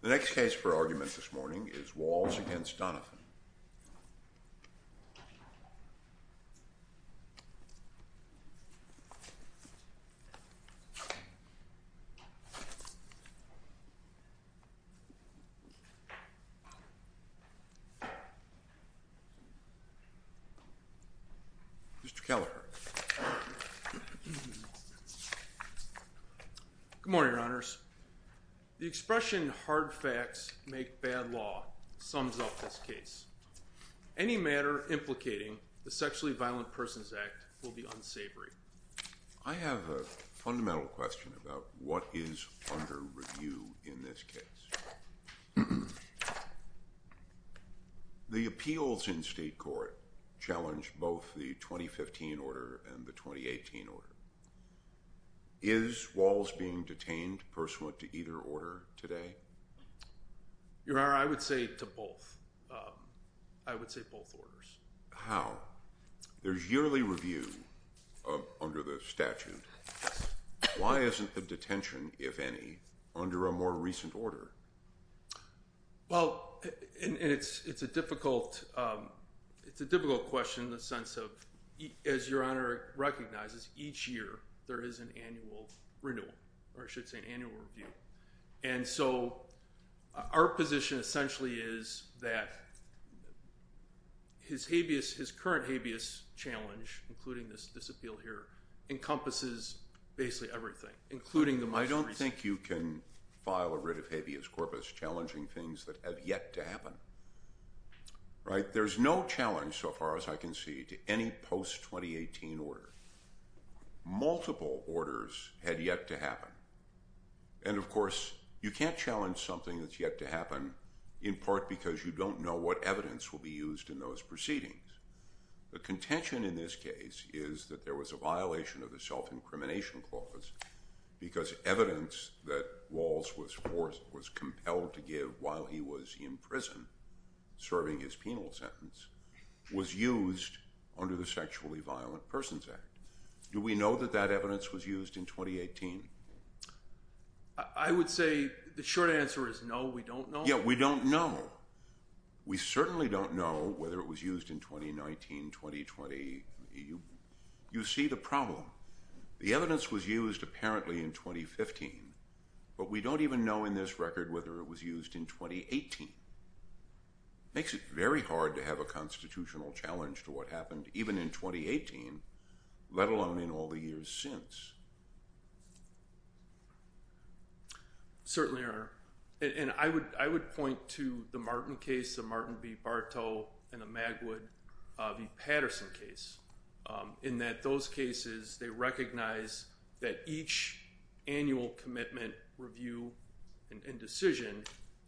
The next case for argument this morning is Walls v. Donathan. Good morning, Your Honors. The expression, hard facts make bad law, sums up this case. Any matter implicating the Sexually Violent Persons Act will be unsavory. I have a fundamental question about what is under review in this case. The appeals in state court challenged both the 2015 order and the 2018 order. Is Walls being detained pursuant to either order today? Your Honor, I would say to both. I would say both orders. How? There's yearly review under the statute. Why isn't the detention, if any, under a more recent order? Well, and it's a difficult question in the sense of, as Your Honor recognizes, each year there is an annual renewal, or I should say annual review. And so our position essentially is that his habeas, his current habeas challenge, including this appeal here, encompasses basically everything, including the most recent. I don't think you can file a writ of habeas corpus challenging things that have yet to happen. Right? There's no challenge so far as I can see to any post-2018 order. Multiple orders had yet to happen. And, of course, you can't challenge something that's yet to happen in part because you don't know what evidence will be used in those proceedings. The contention in this case is that there was a violation of the self-incrimination clause because evidence that Walls was compelled to give while he was in prison serving his penal sentence was used under the Sexually Violent Persons Act. Do we know that that evidence was used in 2018? I would say the short answer is no, we don't know. Yeah, we don't know. We certainly don't know whether it was used in 2019, 2020. You see the problem. The evidence was used apparently in 2015, but we don't even know in this record whether it was used in 2018. It makes it very hard to have a constitutional challenge to what happened even in 2018, let alone in all the years since. Certainly, and I would point to the Martin case, the Martin v. Barto and the Magwood v. Patterson case, in that those cases they recognize that each annual commitment review and decision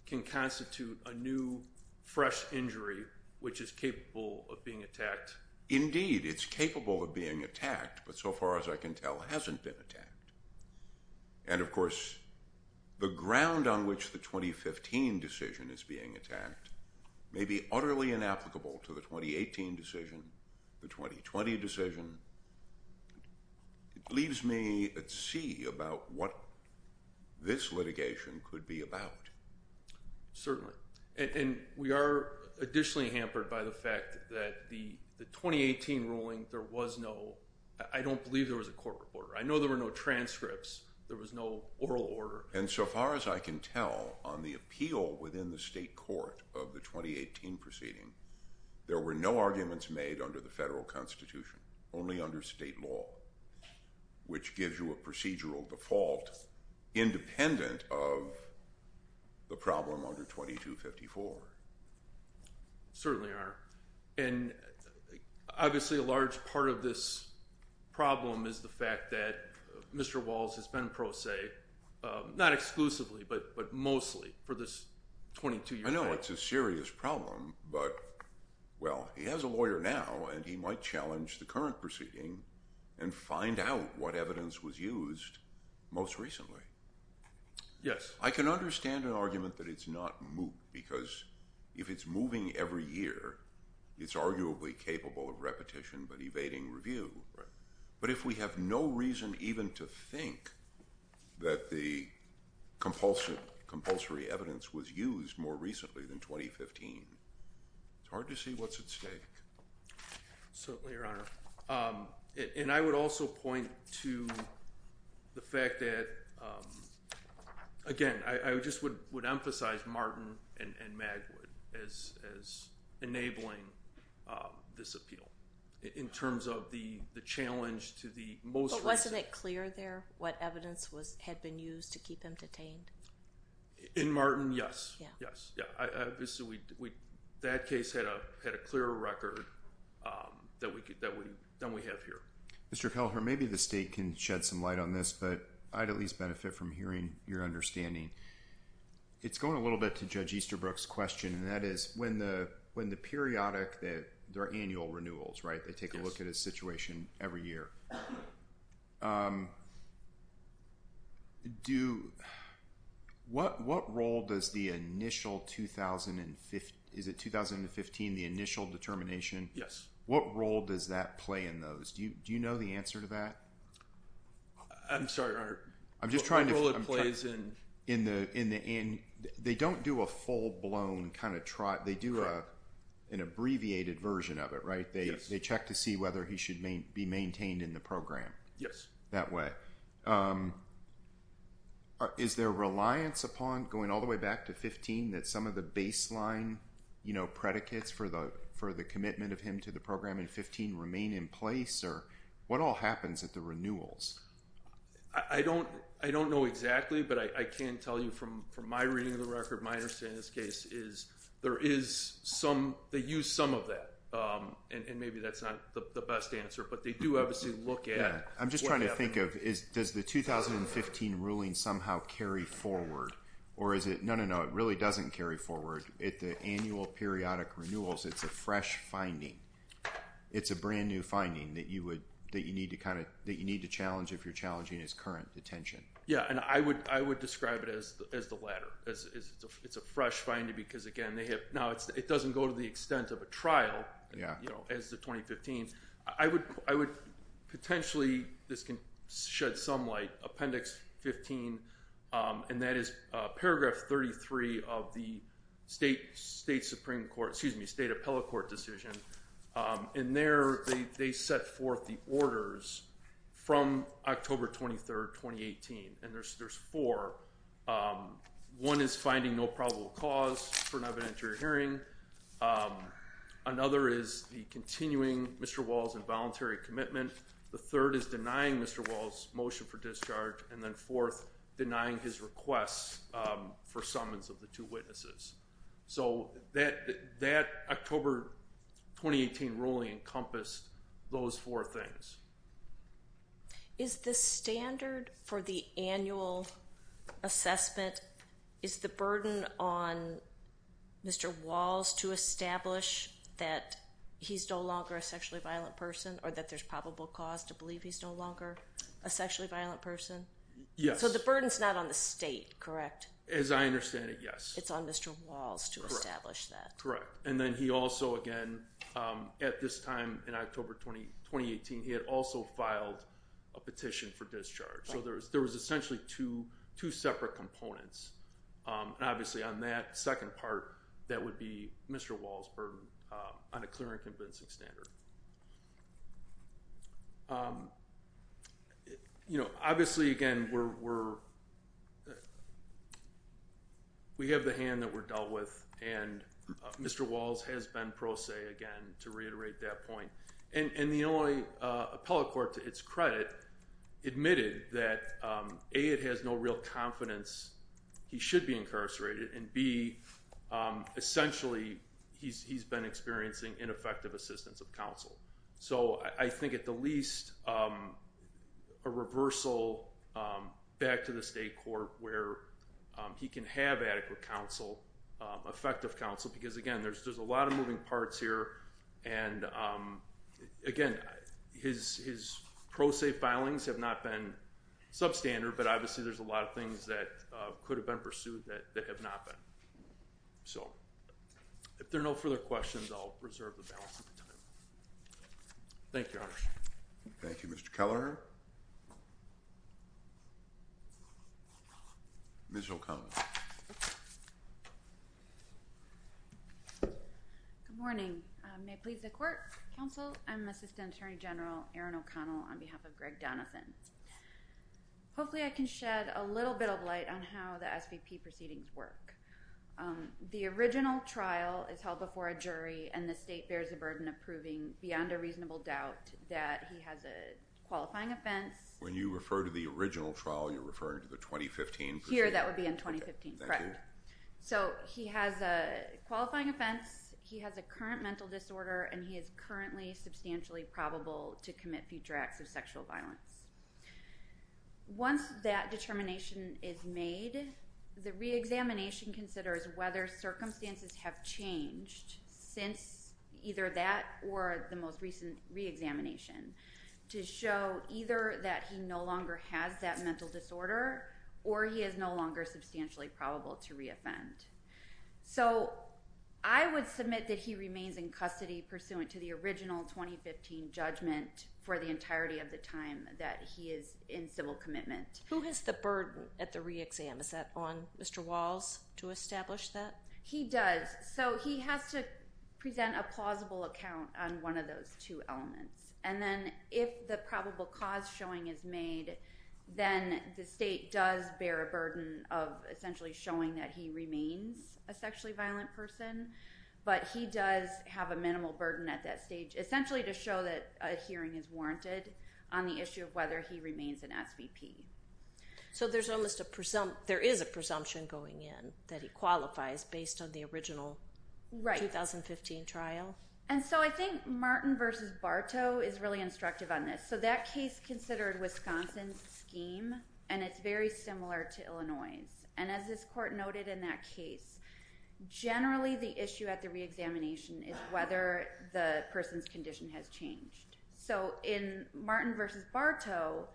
can constitute a new fresh injury which is capable of being attacked. Indeed, it's capable of being attacked, but so far as I can tell hasn't been attacked. And, of course, the ground on which the 2015 decision is being attacked may be utterly inapplicable to the 2018 decision, the 2020 decision. It leaves me at sea about what this litigation could be about. Certainly, and we are additionally hampered by the fact that the 2018 ruling, there was no – I don't believe there was a court order. I know there were no transcripts. There was no oral order. And so far as I can tell on the appeal within the state court of the 2018 proceeding, there were no arguments made under the federal constitution, only under state law, which gives you a procedural default independent of the problem under 2254. Certainly are, and obviously a large part of this problem is the fact that Mr. Walls has been pro se, not exclusively, but mostly for this 22-year period. I know it's a serious problem, but, well, he has a lawyer now and he might challenge the current proceeding and find out what evidence was used most recently. Yes. I can understand an argument that it's not moot because if it's moving every year, it's arguably capable of repetition but evading review. Right. But if we have no reason even to think that the compulsory evidence was used more recently than 2015, it's hard to see what's at stake. Certainly, Your Honor. And I would also point to the fact that, again, I just would emphasize Martin and Magwood as enabling this appeal in terms of the challenge to the most recent. But wasn't it clear there what evidence had been used to keep him detained? In Martin, yes. That case had a clearer record than we have here. Mr. Kelleher, maybe the state can shed some light on this, but I'd at least benefit from hearing your understanding. It's going a little bit to Judge Easterbrook's question, and that is when the periodic annual renewals, right, they take a look at a situation every year. Do – what role does the initial – is it 2015, the initial determination? Yes. What role does that play in those? Do you know the answer to that? I'm sorry, Your Honor. I'm just trying to – What role it plays in – They don't do a full-blown kind of – they do an abbreviated version of it, right? Yes. They check to see whether he should be maintained in the program. Yes. That way. Is there reliance upon going all the way back to 2015 that some of the baseline predicates for the commitment of him to the program in 2015 remain in place? Or what all happens at the renewals? I don't know exactly, but I can tell you from my reading of the record, my understanding of this case is there is some – they use some of that. And maybe that's not the best answer, but they do obviously look at what happened. I'm just trying to think of – does the 2015 ruling somehow carry forward? Or is it – no, no, no. It really doesn't carry forward. At the annual periodic renewals, it's a fresh finding. It's a brand-new finding that you would – that you need to kind of – that you need to challenge if you're challenging his current detention. Yes. And I would describe it as the latter. It's a fresh finding because, again, they have – now, it doesn't go to the extent of a trial as the 2015. I would potentially – this can shed some light – Appendix 15, and that is Paragraph 33 of the State Supreme Court – excuse me, State Appellate Court decision. In there, they set forth the orders from October 23rd, 2018, and there's four. One is finding no probable cause for an evidentiary hearing. Another is the continuing Mr. Wall's involuntary commitment. The third is denying Mr. Wall's motion for discharge. And then fourth, denying his request for summons of the two witnesses. So that October 2018 ruling encompassed those four things. Is the standard for the annual assessment – is the burden on Mr. Walls to establish that he's no longer a sexually violent person or that there's probable cause to believe he's no longer a sexually violent person? Yes. So the burden's not on the state, correct? As I understand it, yes. It's on Mr. Walls to establish that. And then he also, again, at this time in October 2018, he had also filed a petition for discharge. So there was essentially two separate components. And obviously on that second part, that would be Mr. Wall's burden on a clear and convincing standard. You know, obviously, again, we have the hand that we're dealt with, and Mr. Walls has been pro se, again, to reiterate that point. And the Illinois Appellate Court, to its credit, admitted that, A, it has no real confidence he should be incarcerated, and B, essentially, he's been experiencing ineffective assistance of counsel. So I think, at the least, a reversal back to the state court where he can have adequate counsel, effective counsel, because, again, there's a lot of moving parts here. And, again, his pro se filings have not been substandard, but obviously there's a lot of things that could have been pursued that have not been. So if there are no further questions, I'll reserve the balance of my time. Thank you, Your Honor. Thank you, Mr. Keller. Ms. O'Connell. Good morning. May it please the court, counsel, I'm Assistant Attorney General Erin O'Connell on behalf of Greg Donovan. Hopefully I can shed a little bit of light on how the SVP proceedings work. The original trial is held before a jury, and the state bears the burden of proving, beyond a reasonable doubt, that he has a qualifying offense. When you refer to the original trial, you're referring to the 2015 proceeding? Here, that would be in 2015, correct. Okay, thank you. So he has a qualifying offense, he has a current mental disorder, and he is currently substantially probable to commit future acts of sexual violence. Once that determination is made, the reexamination considers whether circumstances have changed since either that or the most recent reexamination to show either that he no longer has that mental disorder, or he is no longer substantially probable to reoffend. So I would submit that he remains in custody pursuant to the original 2015 judgment for the entirety of the time that he is in civil commitment. Who has the burden at the reexam? Is that on Mr. Walls to establish that? He does. So he has to present a plausible account on one of those two elements. And then if the probable cause showing is made, then the state does bear a burden of essentially showing that he remains a sexually violent person. But he does have a minimal burden at that stage, essentially to show that a hearing is warranted on the issue of whether he remains an SVP. So there is a presumption going in that he qualifies based on the original 2015 trial? And so I think Martin v. Bartow is really instructive on this. So that case considered Wisconsin's scheme, and it's very similar to Illinois's. And as this court noted in that case, generally the issue at the reexamination is whether the person's condition has changed. So in Martin v. Bartow,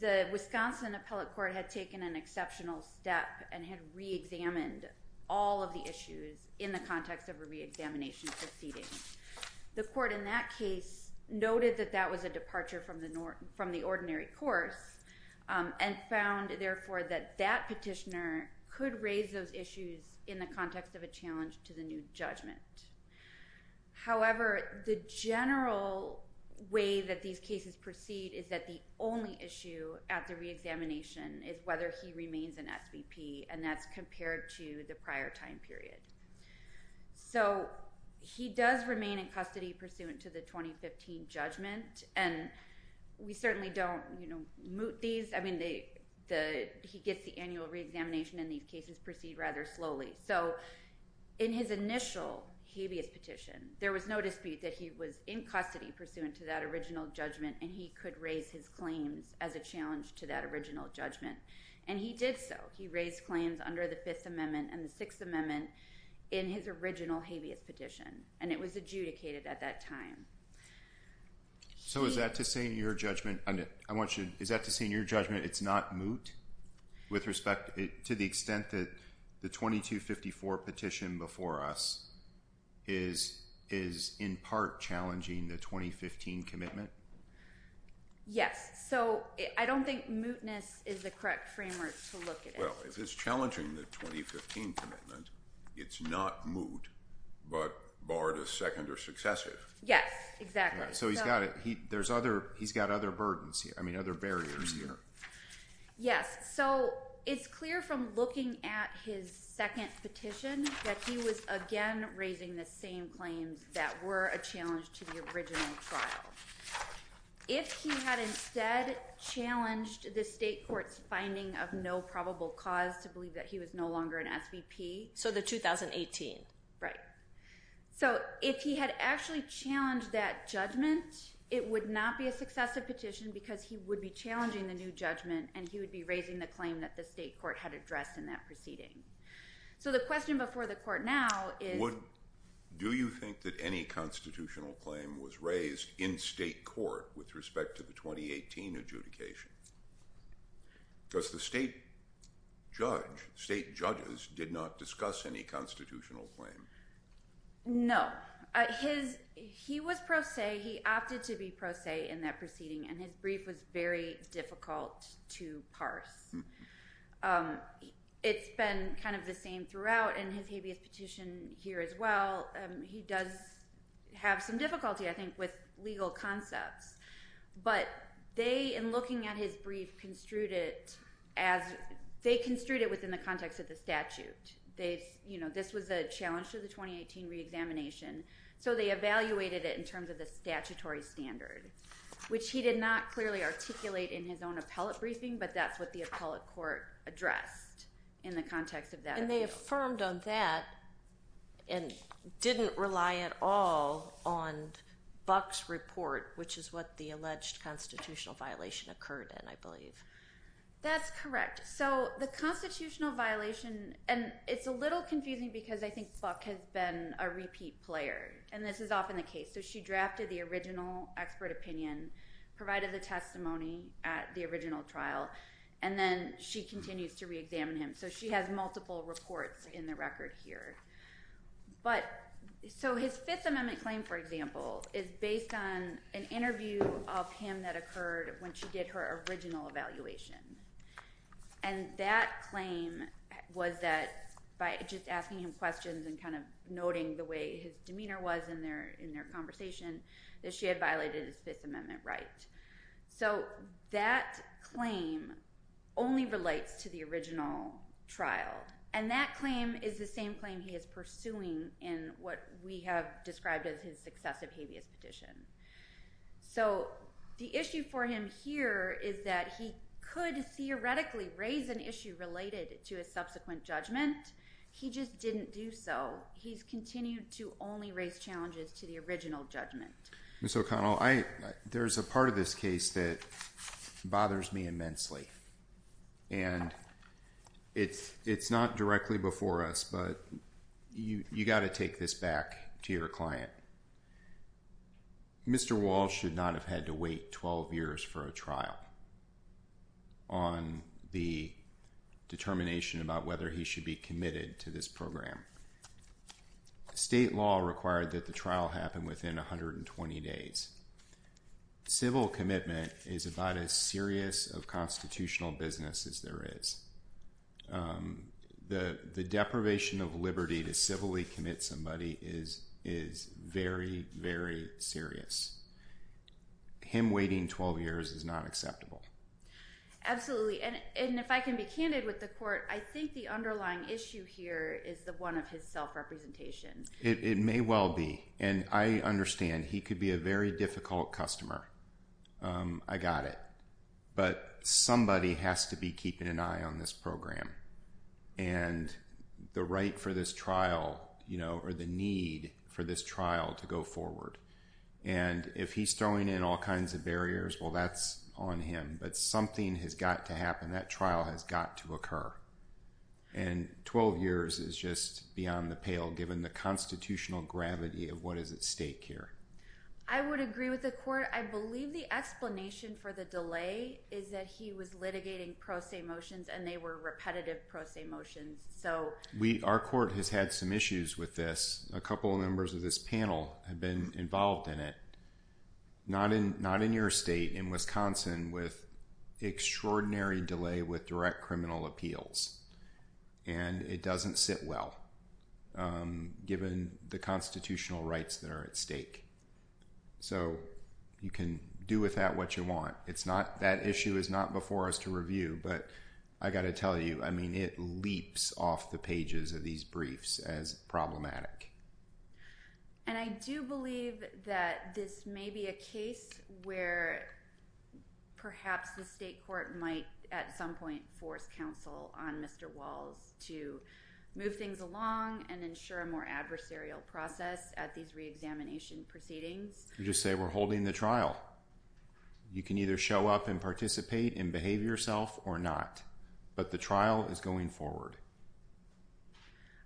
the Wisconsin appellate court had taken an exceptional step and had reexamined all of the issues in the context of a reexamination proceeding. The court in that case noted that that was a departure from the ordinary course and found, therefore, that that petitioner could raise those issues in the context of a challenge to the new judgment. However, the general way that these cases proceed is that the only issue at the reexamination is whether he remains an SVP, and that's compared to the prior time period. So he does remain in custody pursuant to the 2015 judgment, and we certainly don't moot these. I mean, he gets the annual reexamination, and these cases proceed rather slowly. So in his initial habeas petition, there was no dispute that he was in custody pursuant to that original judgment, and he could raise his claims as a challenge to that original judgment. And he did so. He raised claims under the Fifth Amendment and the Sixth Amendment in his original habeas petition, and it was adjudicated at that time. So is that to say in your judgment it's not moot with respect to the extent that the 2254 petition before us is in part challenging the 2015 commitment? Yes. So I don't think mootness is the correct framework to look at it. Well, if it's challenging the 2015 commitment, it's not moot, but barred as second or successive. Yes, exactly. So he's got other burdens here. I mean, other barriers here. Yes. So it's clear from looking at his second petition that he was again raising the same claims that were a challenge to the original trial. If he had instead challenged the state court's finding of no probable cause to believe that he was no longer an SVP… So the 2018. Right. So if he had actually challenged that judgment, it would not be a successive petition because he would be challenging the new judgment, and he would be raising the claim that the state court had addressed in that proceeding. So the question before the court now is… Do you think that any constitutional claim was raised in state court with respect to the 2018 adjudication? Because the state judge, state judges did not discuss any constitutional claim. No. He was pro se. He opted to be pro se in that proceeding, and his brief was very difficult to parse. It's been kind of the same throughout, and his habeas petition here as well, he does have some difficulty, I think, with legal concepts. But they, in looking at his brief, construed it within the context of the statute. This was a challenge to the 2018 reexamination, so they evaluated it in terms of the statutory standard, which he did not clearly articulate in his own appellate briefing, but that's what the appellate court addressed in the context of that. And they affirmed on that and didn't rely at all on Buck's report, which is what the alleged constitutional violation occurred in, I believe. That's correct. So the constitutional violation, and it's a little confusing because I think Buck has been a repeat player, and this is often the case. So she drafted the original expert opinion, provided the testimony at the original trial, and then she continues to reexamine him. So she has multiple reports in the record here. So his Fifth Amendment claim, for example, is based on an interview of him that occurred when she did her original evaluation. And that claim was that by just asking him questions and kind of noting the way his demeanor was in their conversation, that she had violated his Fifth Amendment right. So that claim only relates to the original trial, and that claim is the same claim he is pursuing in what we have described as his successive habeas petition. So the issue for him here is that he could theoretically raise an issue related to his subsequent judgment. He just didn't do so. He's continued to only raise challenges to the original judgment. Ms. O'Connell, there's a part of this case that bothers me immensely, and it's not directly before us, but you've got to take this back to your client. Mr. Walsh should not have had to wait 12 years for a trial on the determination about whether he should be committed to this program. State law required that the trial happen within 120 days. Civil commitment is about as serious of constitutional business as there is. The deprivation of liberty to civilly commit somebody is very, very serious. Him waiting 12 years is not acceptable. Absolutely, and if I can be candid with the court, I think the underlying issue here is the one of his self-representation. It may well be, and I understand he could be a very difficult customer. I got it. But somebody has to be keeping an eye on this program and the right for this trial or the need for this trial to go forward. And if he's throwing in all kinds of barriers, well, that's on him. But something has got to happen. That trial has got to occur. And 12 years is just beyond the pale, given the constitutional gravity of what is at stake here. I would agree with the court. I believe the explanation for the delay is that he was litigating pro se motions, and they were repetitive pro se motions. Our court has had some issues with this. A couple of members of this panel have been involved in it. Not in your state, in Wisconsin, with extraordinary delay with direct criminal appeals. And it doesn't sit well, given the constitutional rights that are at stake. So you can do with that what you want. That issue is not before us to review. But I got to tell you, I mean, it leaps off the pages of these briefs as problematic. And I do believe that this may be a case where perhaps the state court might, at some point, force counsel on Mr. Walls to move things along and ensure a more adversarial process at these reexamination proceedings. You just say, we're holding the trial. You can either show up and participate and behave yourself or not. But the trial is going forward.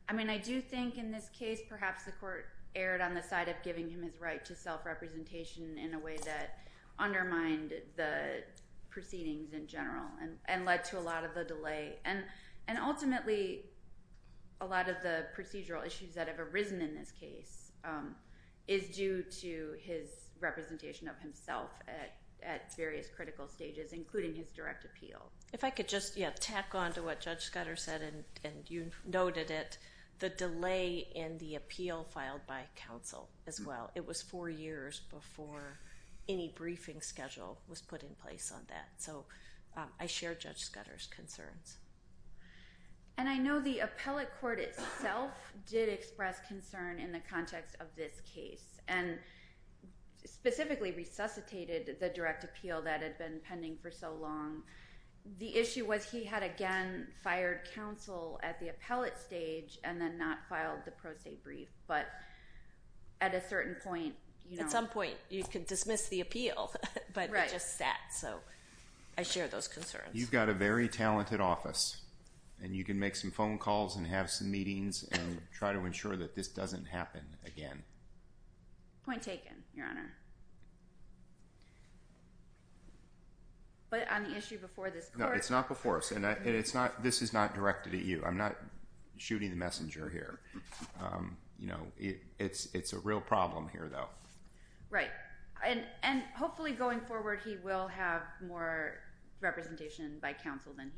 I mean, I do think in this case, perhaps the court erred on the side of giving him his right to self-representation in a way that undermined the proceedings in general and led to a lot of the delay. And ultimately, a lot of the procedural issues that have arisen in this case is due to his representation of himself at various critical stages, including his direct appeal. If I could just tack on to what Judge Scudder said, and you noted it, the delay in the appeal filed by counsel as well. It was four years before any briefing schedule was put in place on that. And so I share Judge Scudder's concerns. And I know the appellate court itself did express concern in the context of this case and specifically resuscitated the direct appeal that had been pending for so long. The issue was he had, again, fired counsel at the appellate stage and then not filed the pro se brief. But at a certain point, you know. I share those concerns. You've got a very talented office, and you can make some phone calls and have some meetings and try to ensure that this doesn't happen again. Point taken, Your Honor. But on the issue before this court. No, it's not before. This is not directed at you. I'm not shooting the messenger here. You know, it's a real problem here, though. Right. And hopefully going forward, he will have more representation by counsel than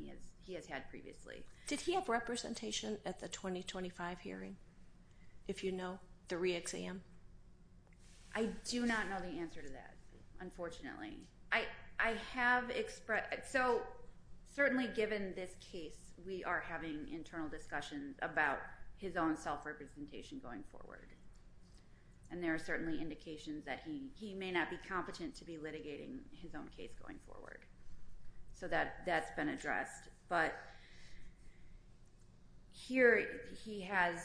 he has had previously. Did he have representation at the 2025 hearing? If you know, the re-exam? I do not know the answer to that, unfortunately. I have expressed. So certainly given this case, we are having internal discussions about his own self-representation going forward. And there are certainly indications that he may not be competent to be litigating his own case going forward. So that's been addressed. But here he has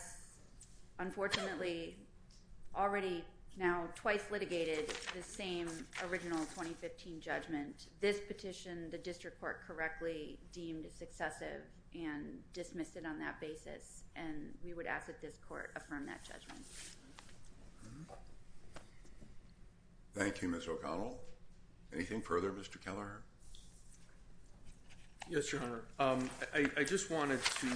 unfortunately already now twice litigated the same original 2015 judgment. This petition, the district court correctly deemed successive and dismissed it on that basis. And we would ask that this court affirm that judgment. Thank you, Ms. O'Connell. Anything further, Mr. Kelleher? Yes, Your Honor. I just wanted to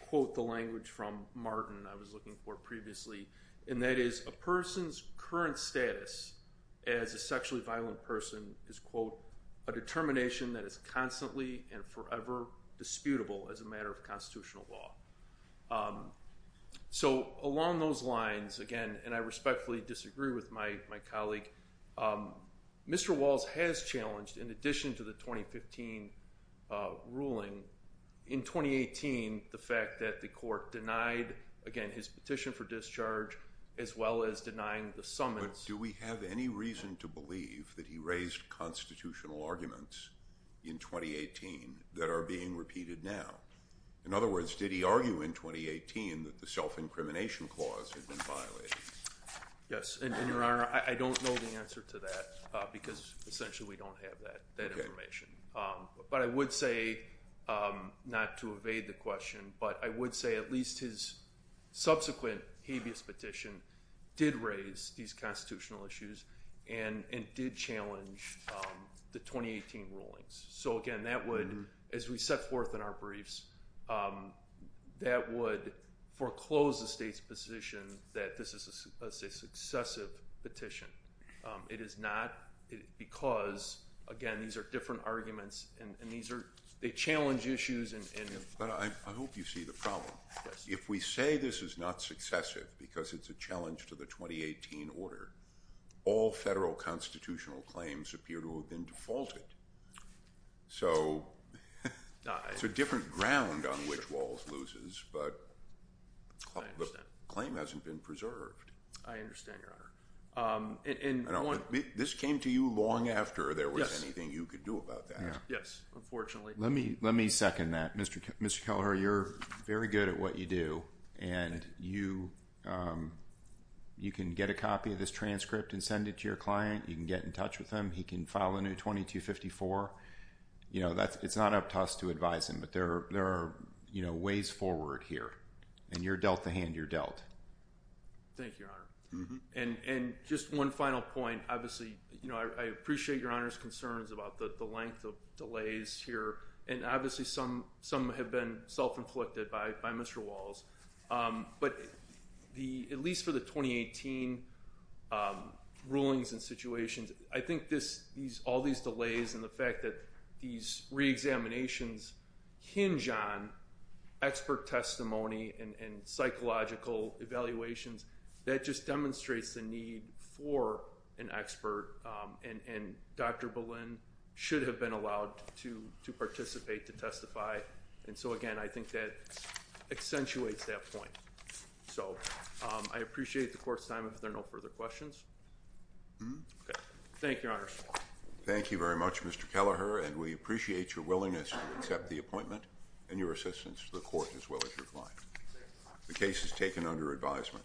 quote the language from Martin I was looking for previously. And that is, a person's current status as a sexually violent person is, quote, a determination that is constantly and forever disputable as a matter of constitutional law. So along those lines, again, and I respectfully disagree with my colleague, Mr. Walls has challenged, in addition to the 2015 ruling, in 2018, the fact that the court denied, again, his petition for discharge, as well as denying the summons. But do we have any reason to believe that he raised constitutional arguments in 2018 that are being repeated now? In other words, did he argue in 2018 that the self-incrimination clause had been violated? Yes, and, Your Honor, I don't know the answer to that because essentially we don't have that information. But I would say, not to evade the question, but I would say at least his subsequent habeas petition did raise these constitutional issues and did challenge the 2018 rulings. So, again, that would, as we set forth in our briefs, that would foreclose the state's position that this is a successive petition. It is not because, again, these are different arguments and they challenge issues. But I hope you see the problem. If we say this is not successive because it's a challenge to the 2018 order, all federal constitutional claims appear to have been defaulted. So it's a different ground on which Walls loses, but the claim hasn't been preserved. I understand, Your Honor. This came to you long after there was anything you could do about that. Yes, unfortunately. Let me second that. Mr. Keller, you're very good at what you do. And you can get a copy of this transcript and send it to your client. You can get in touch with him. He can file a new 2254. It's not up to us to advise him, but there are ways forward here. And you're dealt the hand you're dealt. Thank you, Your Honor. And just one final point. I appreciate Your Honor's concerns about the length of delays here. And obviously some have been self-inflicted by Mr. Walls. But at least for the 2018 rulings and situations, I think all these delays and the fact that these reexaminations hinge on expert testimony and psychological evaluations, that just demonstrates the need for an expert. And Dr. Boleyn should have been allowed to participate to testify. And so, again, I think that accentuates that point. So I appreciate the Court's time if there are no further questions. Thank you, Your Honor. Thank you very much, Mr. Kelleher. And we appreciate your willingness to accept the appointment and your assistance to the Court as well as your client. The case is taken under advisement.